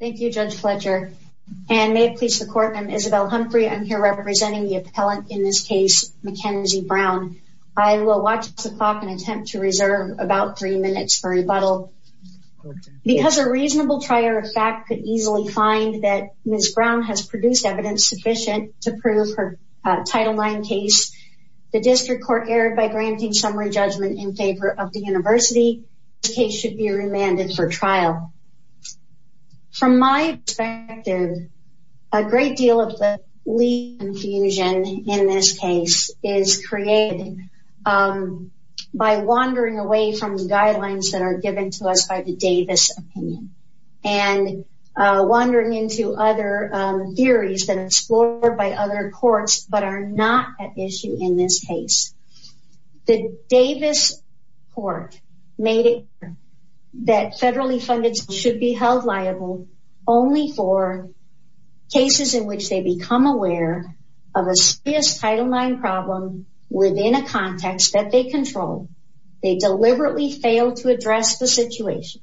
Thank you, Judge Fletcher and may it please the court, I'm Isabel Humphrey. I'm here representing the appellant in this case, Mackenzie Brown. I will watch the clock and attempt to reserve about three minutes for rebuttal. Because a reasonable trier of fact could easily find that Ms. Brown has produced evidence sufficient to prove her Title IX case, the district court erred by granting summary judgment in favor of the university. The case should be remanded for trial. From my perspective, a great deal of the legal confusion in this case is created by wandering away from the guidelines that are given to us by the Davis opinion and wandering into other theories that are explored by other courts but are not at issue in this case. The Davis court made it clear that federally funded cases should be held liable only for cases in which they become aware of a serious Title IX problem within a context that they control. They deliberately fail to address the situation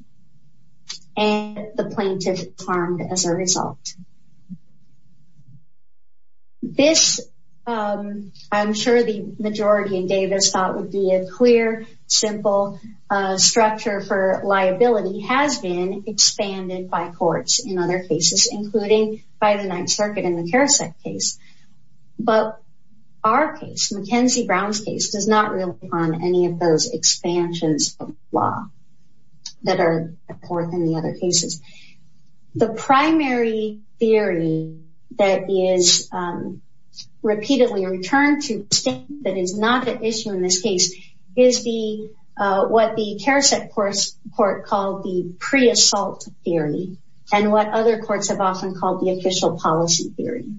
and the plaintiff is harmed as a result. This, I'm sure the majority in Davis thought would be a clear, simple structure for liability, has been expanded by courts in other cases, including by the Ninth Circuit in the Karasek case. But our case, Mackenzie Brown's case, does not rely on any of those expansions of law that are in the other cases. The primary theory that is repeatedly returned to state that is not at issue in this case is what the Karasek court called the pre-assault theory and what other courts have often called the official policy theory.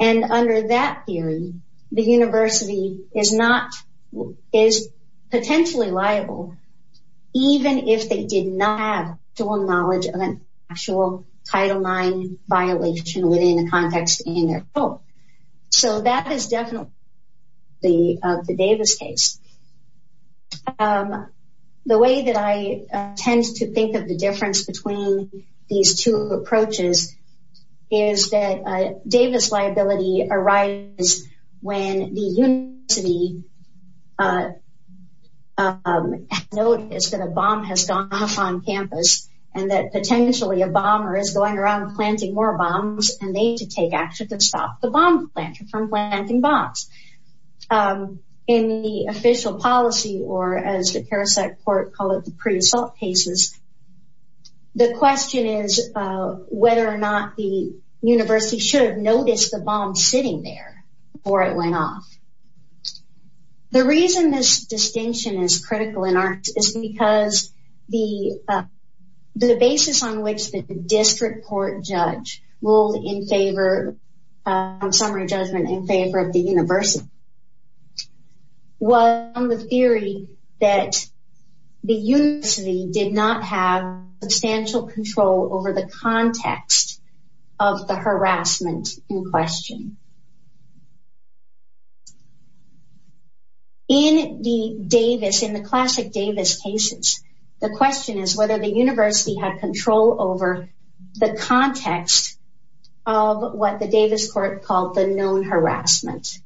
And under that theory, the university is potentially liable even if they did not have full knowledge of an actual Title IX violation within the context in their court. So that is definitely the Davis case. The way that I tend to think of the difference between these two approaches is that Davis liability arises when the university noticed that a bomb has gone off on campus and that potentially a bomber is going around planting more bombs and they need to take action to stop the bomb planter from planting bombs. In the official policy, or as the Karasek court called the pre-assault cases, the question is whether or not the university should have noticed the bomb sitting there before it went off. The reason this distinction is critical in our case is because the basis on which the district court judge ruled in favor of the university was on the theory that the university did not have substantial control over the context of the harassment in question. In the Davis, in the classic Davis cases, the question is whether the university had control over the context of what the Davis court called the known harassment.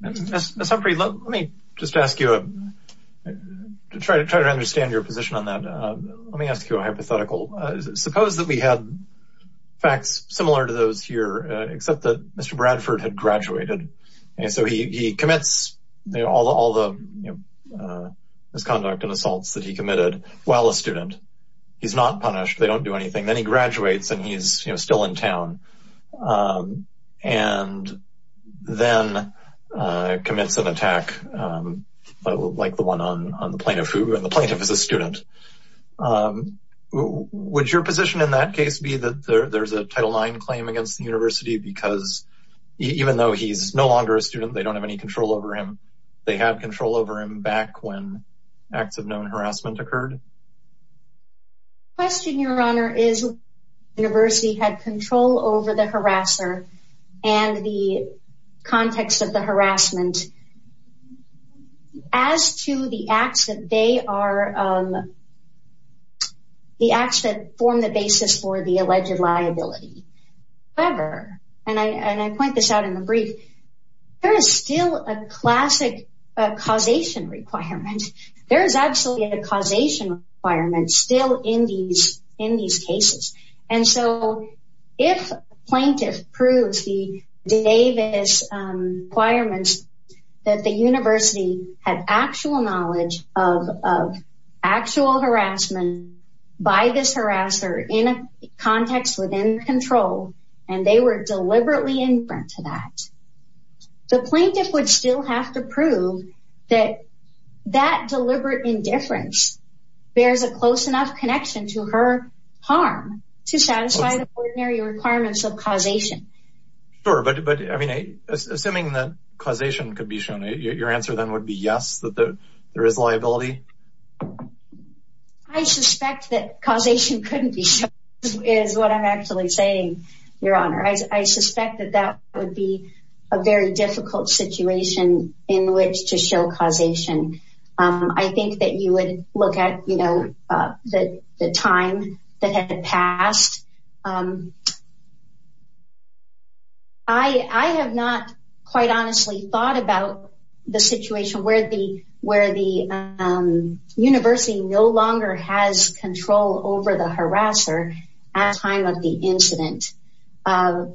Ms. Humphrey, let me just ask you to try to understand your position on that. Let me ask you a hypothetical. Suppose that we had facts similar to those here, except that Mr. Bradford had graduated and so he commits all the misconduct and assaults that student. He's not punished. They don't do anything. Then he graduates and he's still in town and then commits an attack like the one on the plaintiff, who the plaintiff is a student. Would your position in that case be that there's a Title IX claim against the university because even though he's no longer a student, they don't have any control over him. They had control over him back when acts of known harassment occurred? Question, your honor, is the university had control over the harasser and the context of the harassment as to the acts that they are, the acts that form the basis for the alleged liability. However, and I point this out in brief, there is still a classic causation requirement. There is actually a causation requirement still in these cases. And so if plaintiff proves the Davis requirements, that the university had actual knowledge of actual harassment by this harasser in a context within control and they were deliberately in front of that, the plaintiff would still have to prove that that deliberate indifference bears a close enough connection to her harm to satisfy the ordinary requirements of causation. Sure, but I mean, assuming that causation could be shown, your answer then would be yes, that there is liability. I suspect that causation couldn't be shown is what I'm actually saying, your honor. I suspect that that would be a very difficult situation in which to show causation. I think that you would look at, you know, the time that had passed. I have not quite honestly thought about the situation where the university no longer has control over the harasser at the time of the incident. But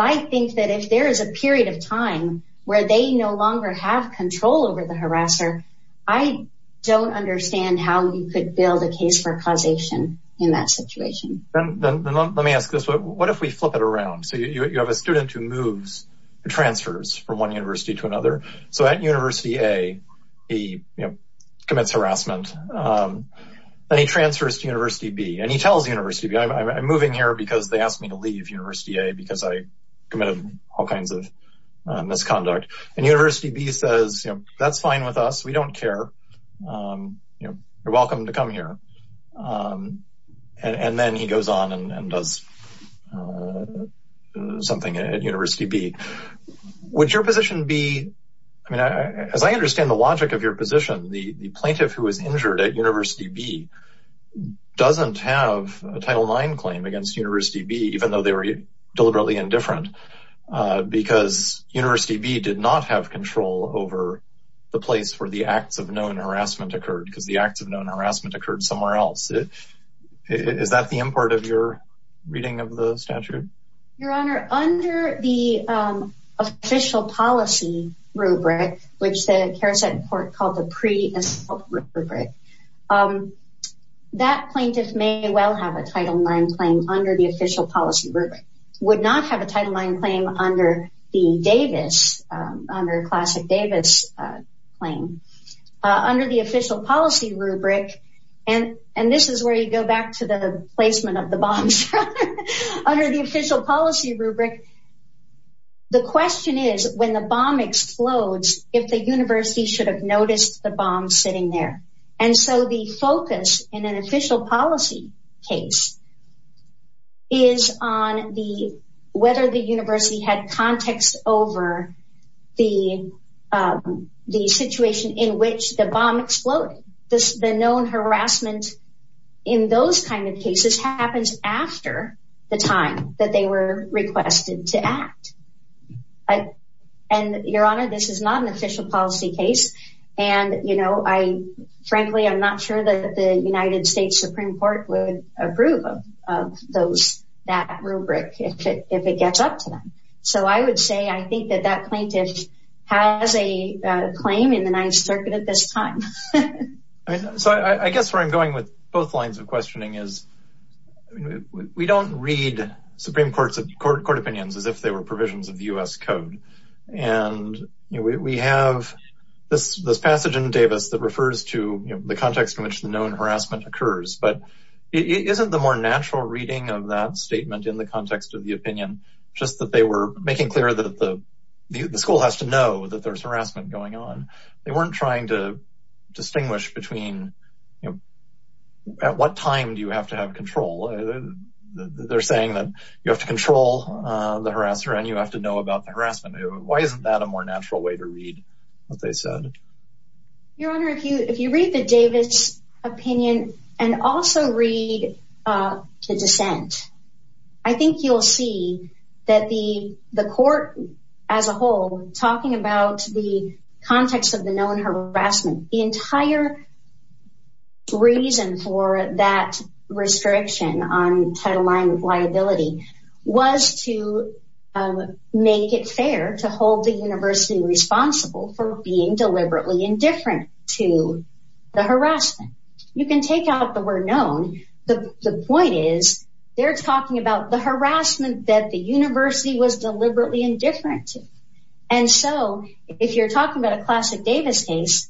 I think that if there is a period of time where they no longer have control over the harasser, I don't understand how you could build a case for causation in that situation. Let me ask this, what if we flip it around? So you have a student who moves, transfers from one university to another. So at University A, he commits harassment. Then he transfers to University B, and he tells University B, I'm moving here because they asked me to leave University A because I committed all kinds of misconduct. And University B says, that's fine with us, we don't care. You're welcome to come here. And then he goes on and does something at University B. Would your position be, I mean, as I understand the logic of your position, the plaintiff who was injured at University B doesn't have a Title IX claim against University B, even though they were deliberately indifferent, because University B did not have control over the place where the acts of known harassment occurred, because the of the statute? Your Honor, under the official policy rubric, which the Karaset court called the pre-assault rubric, that plaintiff may well have a Title IX claim under the official policy rubric, would not have a Title IX claim under the Davis, under classic Davis claim. Under the official policy rubric, the question is when the bomb explodes, if the university should have noticed the bomb sitting there. And so the focus in an official policy case is on the, whether the university had context over the situation in which the bomb exploded. The known harassment in those kinds of cases happens after the time that they were requested to act. And Your Honor, this is not an official policy case. And, you know, I, frankly, I'm not sure that the United States Supreme Court would approve of those, that rubric if it gets up to them. So I would say, I think that that plaintiff has a claim in the Ninth Circuit at this time. So I guess where I'm going with both lines of questioning is, we don't read Supreme Court opinions as if they were provisions of U.S. code. And we have this passage in Davis that refers to the context in which the known harassment occurs, but isn't the more natural reading of that statement in the context of the opinion, just that they were making clear that the school has to know that there's harassment going on. They weren't trying to distinguish between, you know, at what time do you have to have control? They're saying that you have to control the harasser and you have to know about the harassment. Why isn't that a more natural way to read what they said? Your Honor, if you read the Davis opinion and also read the dissent, I think you'll see that the court as a whole, talking about the context of the known harassment, the entire reason for that restriction on Title IX liability was to make it fair to hold the university responsible for being deliberately indifferent to the harassment. You can take out the word known. The point is, they're talking about the harassment that the university was deliberately indifferent to. And so, if you're talking about a classic Davis case,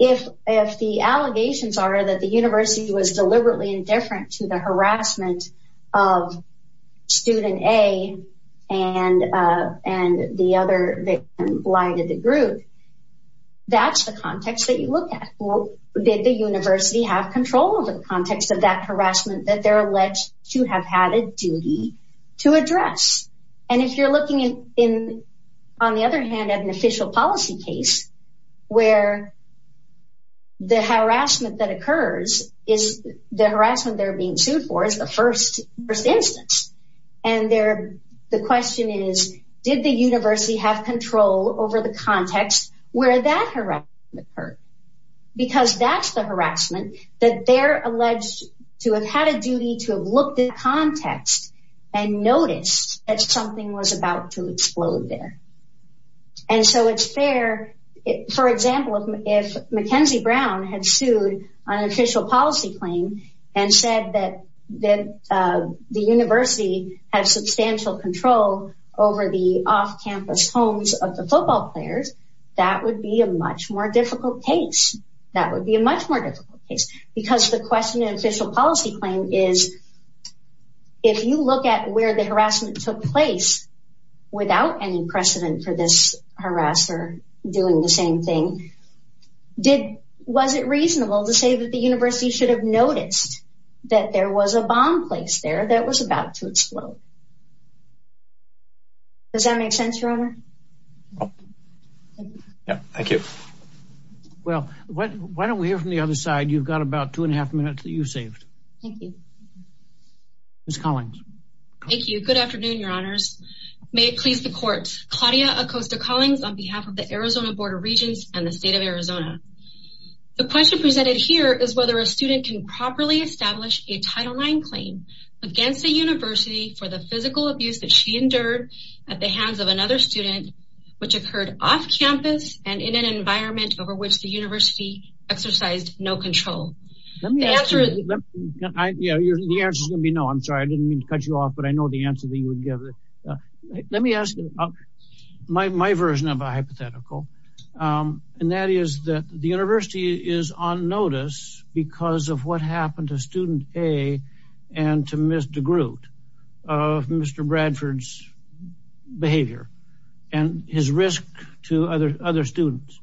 if the allegations are that the university was deliberately indifferent to the harassment of student A and the other victim lying to the group, that's the context that you look at. Did the university have control over the context of that harassment that they're alleged to have had a duty to address? And if you're looking on the other hand at an official policy case where the harassment that occurs is the harassment they're being sued for is the first instance. And the question is, did the university have control over the context where that harassment occurred? Because that's the harassment that they're alleged to have had a duty to have looked at context and noticed that something was about to explode there. And so, it's fair, for example, if Mackenzie Brown had sued on an official policy claim and said that the university had substantial control over the off-campus homes of the football players, that would be a much more difficult case. That would be a much more difficult case because the question in an official policy claim is, if you look at where the harassment took place without any precedent for this harasser doing the same thing, was it reasonable to say that the university should have noticed that there was a bomb placed there that was about to explode? Does that make sense, Your Honor? Oh, yeah, thank you. Well, why don't we hear from the other side? You've got about two and a half minutes that you've saved. Thank you. Ms. Collings. Thank you. Good afternoon, Your Honors. May it please the Court. Claudia Acosta Collings on behalf of the Arizona Board of Regents and the State of Arizona. The question presented here is whether a student can properly establish a Title IX claim against the university for the physical abuse that she endured at the hands of another student, which occurred off-campus and in an environment over which the university exercised no control. The answer is going to be no. I'm sorry, I didn't mean to cut you off, but I know the answer that you would give. Let me ask you my version of a hypothetical, and that is that the university is on notice because of what happened to student A and to Ms. DeGroot of Mr. Brown and his risk to other students.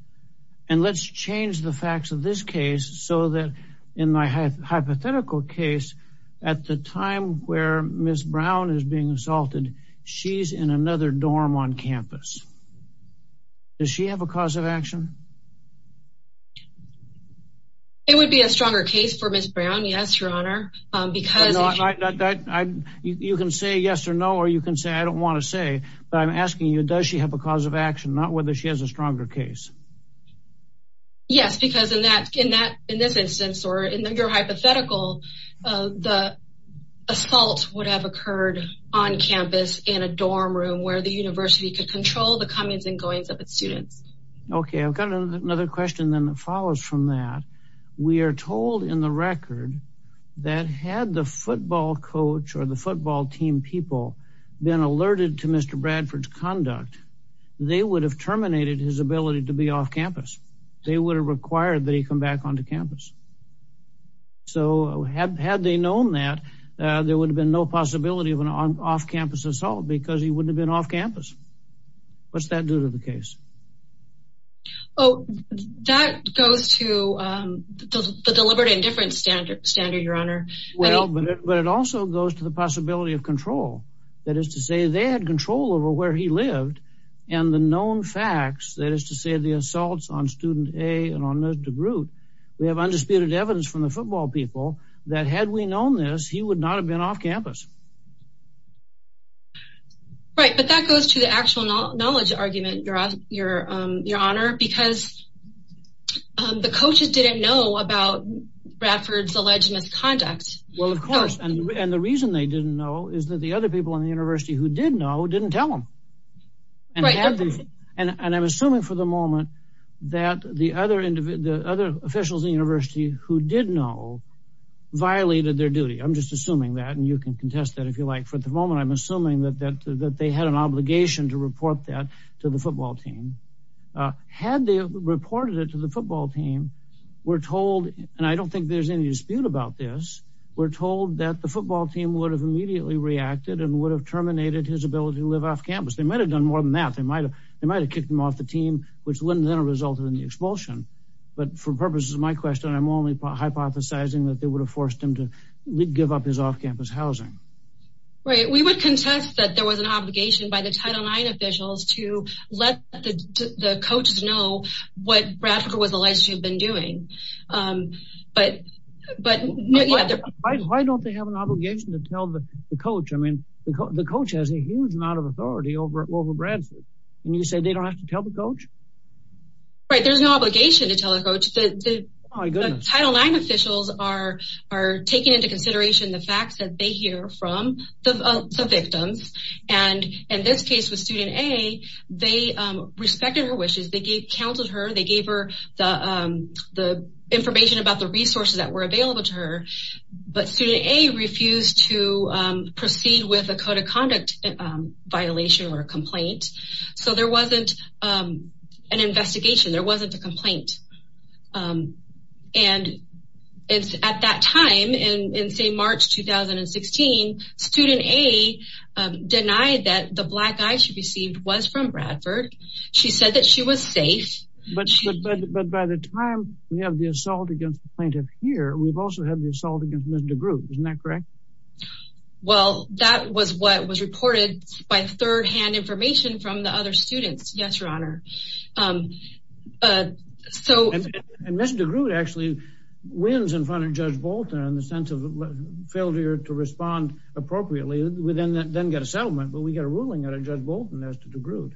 And let's change the facts of this case so that in my hypothetical case, at the time where Ms. Brown is being assaulted, she's in another dorm on campus. Does she have a cause of action? It would be a stronger case for Ms. Brown, yes, Your Honor, because... You can say yes or no, or you can say I don't want to say, but I'm asking you does she have a cause of action, not whether she has a stronger case. Yes, because in this instance, or in your hypothetical, the assault would have occurred on campus in a dorm room where the university could control the comings and goings of its students. Okay, I've got another question that follows from that. We are told in the record that had the football coach or the football team people been alerted to Mr. Bradford's conduct, they would have terminated his ability to be off campus. They would have required that he come back onto campus. So had they known that, there would have been no possibility of an off-campus assault because he wouldn't have been off campus. What's that do to the case? Oh, that goes to the deliberate indifference standard, Your Honor. Well, but it also goes to the possibility of control. That is to say, they had control over where he lived and the known facts, that is to say, the assaults on student A and on Mr. DeGroote. We have undisputed evidence from the football people that had we not have been off campus. Right, but that goes to the actual knowledge argument, Your Honor, because the coaches didn't know about Bradford's alleged misconduct. Well, of course, and the reason they didn't know is that the other people in the university who did know didn't tell them. And I'm assuming for the moment that the other officials in the university who did know violated their duty. I'm just assuming that, and you can contest that if you like. For the moment, I'm assuming that they had an obligation to report that to the football team. Had they reported it to the football team, we're told, and I don't think there's any dispute about this, we're told that the football team would have immediately reacted and would have terminated his ability to live off campus. They might have done more than that. They might have kicked him off the team, which wouldn't have resulted in the expulsion. But for purposes of my question, I'm only hypothesizing that they would have forced him to give up his off-campus housing. Right, we would contest that there was an obligation by the Title IX officials to let the coaches know what Bradford was alleged to have been doing. But why don't they have an obligation to tell the coach? I mean, the coach has a huge amount of authority over Bradford, and you say they don't have to tell the Title IX officials are taking into consideration the facts that they hear from the victims. And in this case with student A, they respected her wishes. They counseled her. They gave her the information about the resources that were available to her. But student A refused to proceed with a code of conduct violation or a complaint. So there wasn't an investigation. There wasn't a complaint. And at that time, in say March 2016, student A denied that the black eye she received was from Bradford. She said that she was safe. But by the time we have the assault against the plaintiff here, we've also had the assault against Ms. DeGroote, isn't that correct? Well, that was what was reported by third-hand information from the students. Yes, Your Honor. And Ms. DeGroote actually wins in front of Judge Bolton in the sense of failure to respond appropriately. We then get a settlement, but we get a ruling out of Judge Bolton as to DeGroote.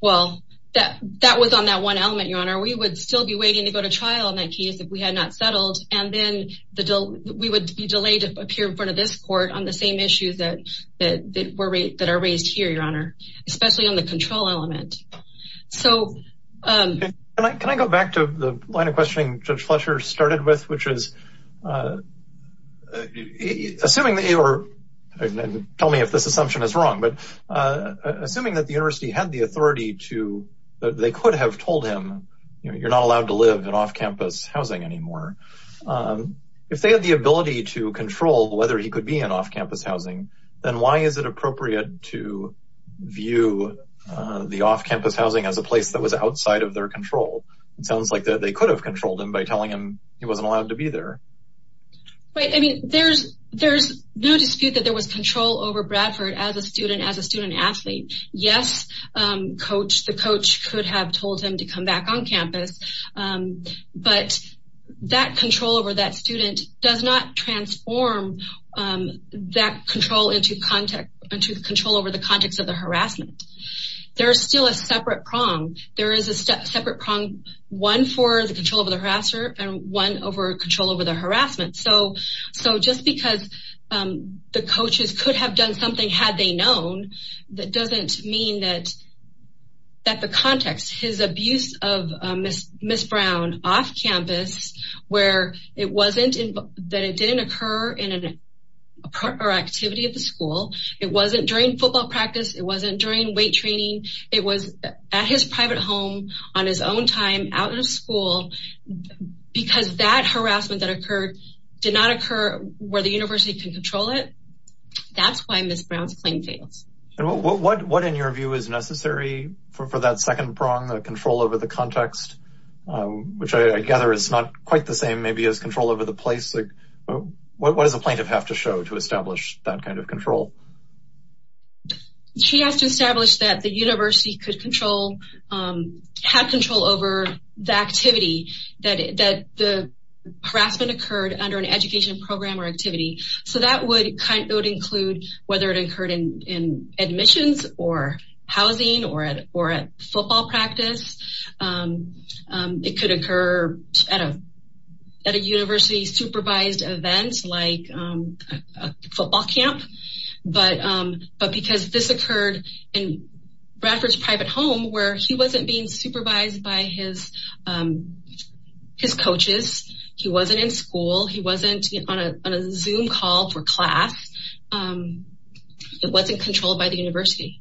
Well, that was on that one element, Your Honor. We would still be waiting to go to trial in that case if we had not settled. And then we would be delayed to appear in front of this court on the same issues that are raised here, Your Honor, especially on the control element. Can I go back to the line of questioning Judge Fletcher started with? Tell me if this assumption is wrong, but assuming that the university had the authority to, they could have told him, you're not allowed to live in off-campus housing anymore. If they had the ability to control whether he could be in off-campus housing, then why is it appropriate to view the off-campus housing as a place that was outside of their control? It sounds like that they could have controlled him by telling him he wasn't allowed to be there. Right, I mean, there's no dispute that there was control over Bradford as a student, as a student-athlete. Yes, the coach could have told him to come back on campus, but that control over that student does not transform that control into control over the context of the harassment. There is still a separate prong. There is a separate prong, one for the control over the harasser and one over control over the harassment. So just because the coaches could have done something had they known, that doesn't mean that the context, his abuse of Ms. Brown off-campus, where it wasn't, that it didn't occur in an activity at the school, it wasn't during football practice, it wasn't during weight training, it was at his private home, on his own time, out of school, because that harassment that occurred did not occur where the university could control it. That's why Ms. Brown's claim fails. What, in your view, is necessary for that second prong, the control over the context, which I gather is not quite the same maybe as control over the place? What does a plaintiff have to show to establish that kind of control? She has to establish that the university could control, had control over the activity that the harassment occurred under an education program or activity. So that would include whether it admissions or housing or at football practice, it could occur at a university supervised event, like a football camp, but because this occurred in Bradford's private home, where he wasn't being supervised by his coaches, he wasn't in school, he wasn't on a Zoom call for class, it wasn't controlled by the university.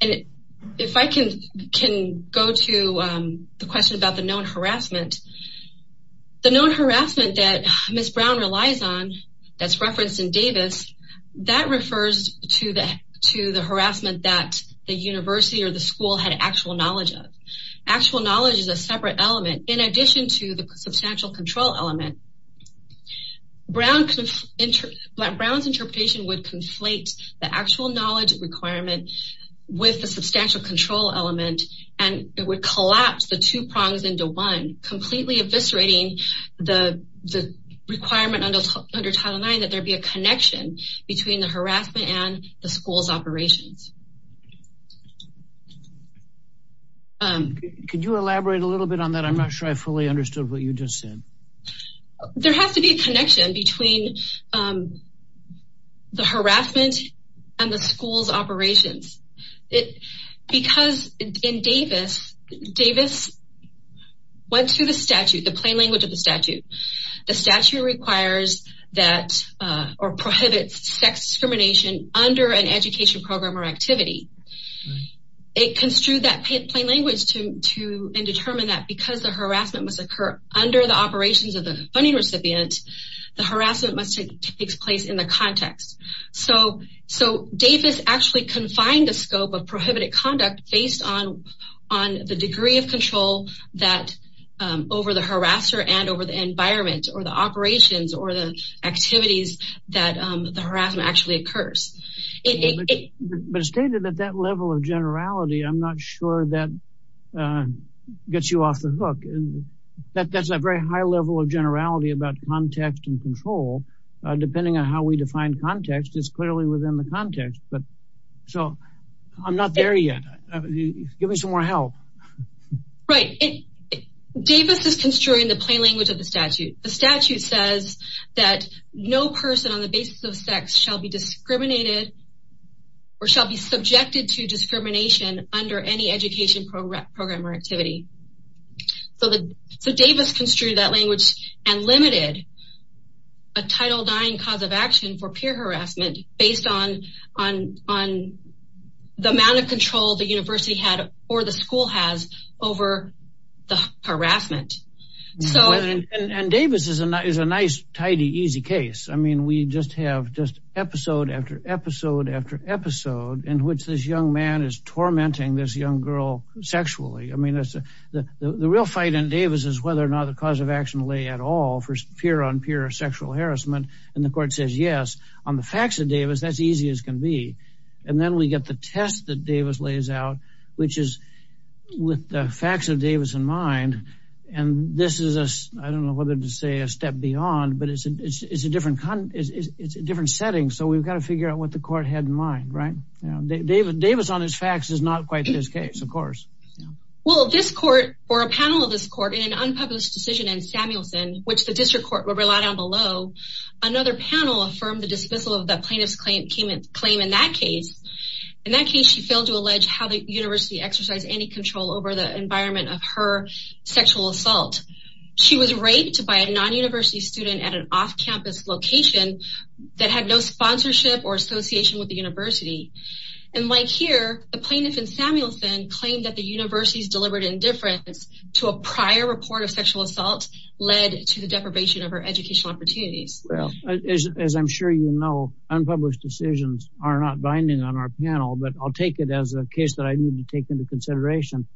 If I can go to the question about the known harassment, the known harassment that Ms. Brown relies on, that's referenced in Davis, that refers to the harassment that the university or the school had actual knowledge of. Actual knowledge is a separate control element. Brown's interpretation would conflate the actual knowledge requirement with the substantial control element, and it would collapse the two prongs into one, completely eviscerating the requirement under Title IX that there be a connection between the harassment and the school's operations. Could you elaborate a little bit on that? I'm not sure I fully understood what you just said. There has to be a connection between the harassment and the school's operations. Because in Davis, Davis went to the statute, the plain language of the statute. The statute requires that or prohibits sex discrimination under an education program or under the operations of the funding recipient. The harassment must take place in the context. So Davis actually confined the scope of prohibited conduct based on the degree of control over the harasser and over the environment or the operations or the activities that the harassment actually occurs. But stated at that level of generality, I'm not sure that gets you off the hook. That's a very high level of generality about context and control. Depending on how we define context, it's clearly within the context. So I'm not there yet. Give me some more help. Right. Davis is construing the plain language of the statute. The statute says that no person on the basis of sex shall be discriminated or shall be subjected to discrimination under any education program or activity. So Davis construed that language and limited a Title IX cause of action for peer harassment based on the amount of control the university had or the school has over the harassment. So and Davis is a nice, tidy, easy case. I mean, we just have just episode after episode after episode in which this young man is tormenting this young girl sexually. I mean, the real fight in Davis is whether or not the cause of action lay at all for peer on peer sexual harassment. And the court says, yes, on the facts of Davis, that's easy as can be. And then we get the test that Davis lays out, which is with the facts of Davis in mind. And this is, I don't know whether to say a step beyond, but it's a it's a different it's a different setting. So we've got to figure out what the court had in mind. Right. David Davis on his facts is not quite his case, of course. Well, this court or a panel of this court in an unpublished decision in Samuelson, which the district court would rely on below. Another panel affirmed the dismissal of the plaintiff's claim in that case. In that case, she failed to allege how the university exercised any control over the environment of her sexual assault. She was raped by a non-university student at an off-campus location that had no sponsorship or association with the university. And like here, the plaintiff in Samuelson claimed that the university's deliberate indifference to a prior report of sexual assault led to the deprivation of her educational opportunities. Well, as I'm sure you know, unpublished decisions are not binding on our panel, but I'll take it as a case that I need to take into consideration.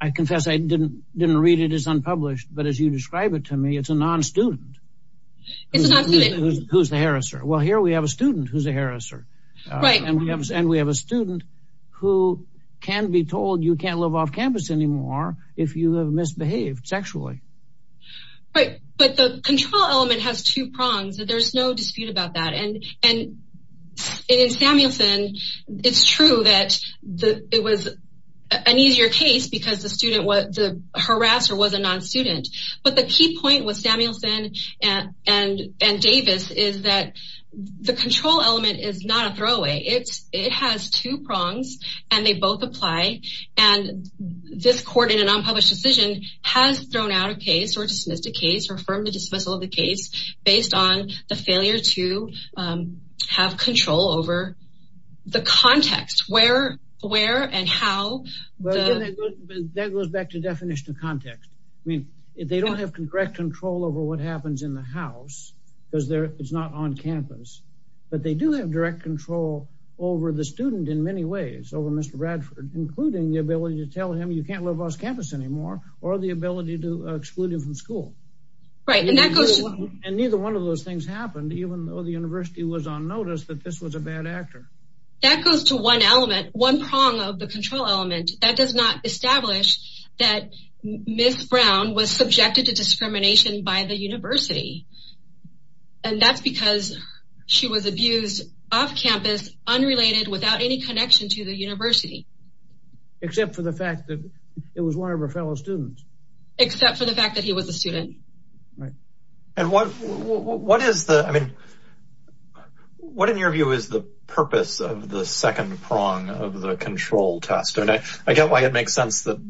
I confess I didn't didn't read it. It's unpublished. But as you describe it to me, it's a non-student. It's a non-student. Who's the harasser? Well, here we have a student who's a harasser. Right. And we have a student who can be told you can't live off campus anymore if you have misbehaved sexually. Right. But the control element has two prongs. There's no dispute about that. And in Samuelson, it's true that it was an easier case because the harasser was a non-student. But the key point with Samuelson and Davis is that the control element is not a throwaway. It has two prongs and they both apply. And this court in an unpublished decision has thrown out a case or dismissed a case or affirmed the dismissal of the case based on the failure to have control over the context where where and how. That goes back to definition of context. I mean, if they don't have correct control over what happens in the house because it's not on campus, but they do have direct control over the student in many ways over Mr. Bradford, including the ability to tell him you can't live off campus anymore or the ability to exclude him from school. Right. And neither one of those things happened, even though the university was on notice that this was a bad actor. That goes to one element, one prong of the control element that does not establish that Ms. Brown was subjected to discrimination by the university. And that's because she was abused off campus, unrelated, without any connection to the university, except for the fact that it was one of her fellow students, except for the fact that he was a student. Right. And what what is the I mean, what in your view is the purpose of the second prong of the control test? I get why it makes sense that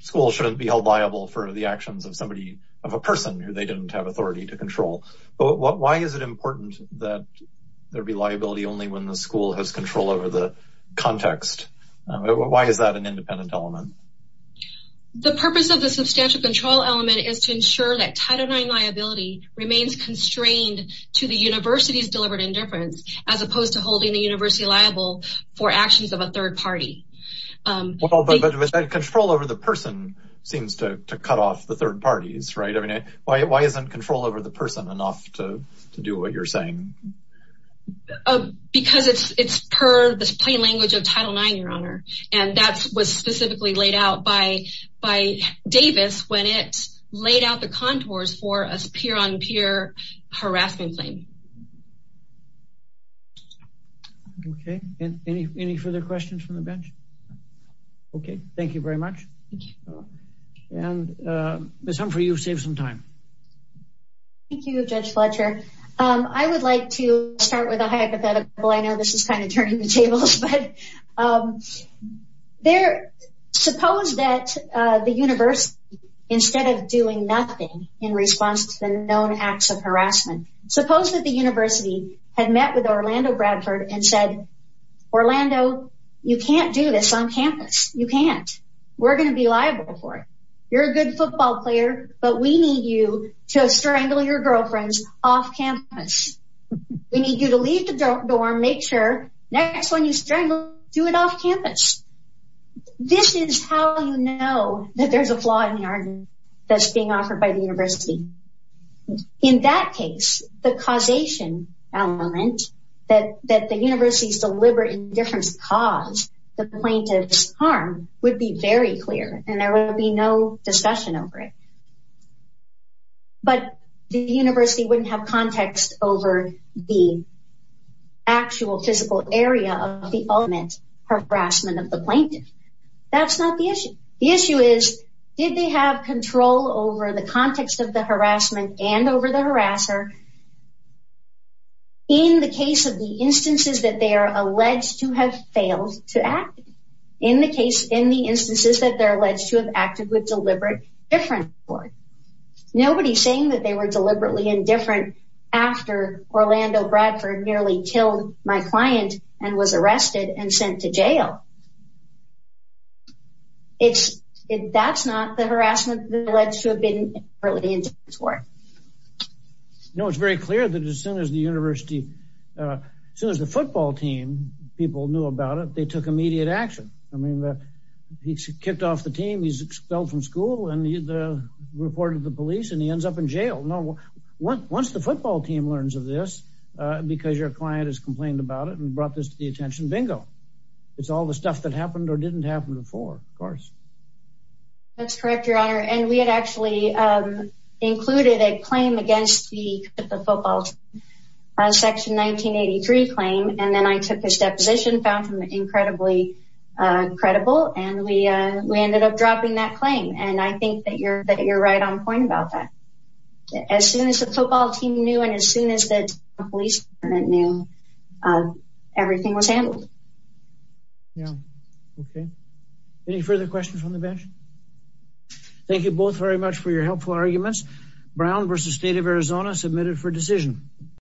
school shouldn't be held liable for the actions of somebody of a person who they didn't have authority to control. But why is it important that there be liability only when the school has control over the context? Why is that an independent element? The purpose of the substantial control element is to ensure that title nine liability remains constrained to the university's deliberate indifference, as opposed to holding the university liable for actions of a third party. But control over the person seems to cut off the third parties. Right. I mean, why isn't control over the person enough to do what you're saying? Oh, because it's it's per the plain language of title nine, your honor. And that was specifically laid out by by Davis when it's laid out the contours for us peer on peer harassment claim. Okay. And any any further questions from the bench? Okay, thank you very much. And, Miss Humphrey, you've saved some time. Thank you, Judge Fletcher. I would like to start with a hypothetical. I know this is kind of turning the tables. But there, suppose that the universe, instead of doing nothing in response to the known acts of harassment, suppose that the university had met with Orlando Bradford and said, Orlando, you can't do this on campus, you can't, we're going to be liable for it. You're a good football player, but we need you to strangle your girlfriends off campus. We need you to leave the dorm, make sure next one you strangle, do it off campus. This is how you know that there's a flaw in the argument that's being offered by the university. In that case, the causation element that that the university's deliberate indifference cause the plaintiff's harm would be very clear, and there would be no discussion over it. But the university wouldn't have context over the actual physical area of the ultimate harassment of the plaintiff. That's not the issue. The issue is, did they have control over the context of the harassment and over the harasser? In the case of the instances that they are alleged to have failed to act, in the case, in the instances that they're alleged to have acted with deliberate indifference for it. Nobody's saying that they were deliberately indifferent after Orlando Bradford nearly killed my client and was arrested and sent to jail. It's, that's not the harassment that alleged to have been early in this war. No, it's very clear that as soon as the university, as soon as the football team, people knew about it, they took immediate action. I mean, he kicked off the team, he's expelled from school, and he reported to the police, and he ends up in jail. No, once the football team learns of this, because your client has complained about it and brought this to the attention, bingo. It's all the stuff that happened or didn't happen before, of course. That's correct, your honor. And we had actually included a claim against the football team, a section 1983 claim, and then I took his deposition, found him incredibly credible, and we ended up dropping that claim. And I think that you're right on point about that. As soon as the football team knew, and as soon as the police knew, everything was handled. Yeah, okay. Any further questions on the bench? Thank you both very much for your helpful arguments. Brown v. State of Arizona submitted for decision.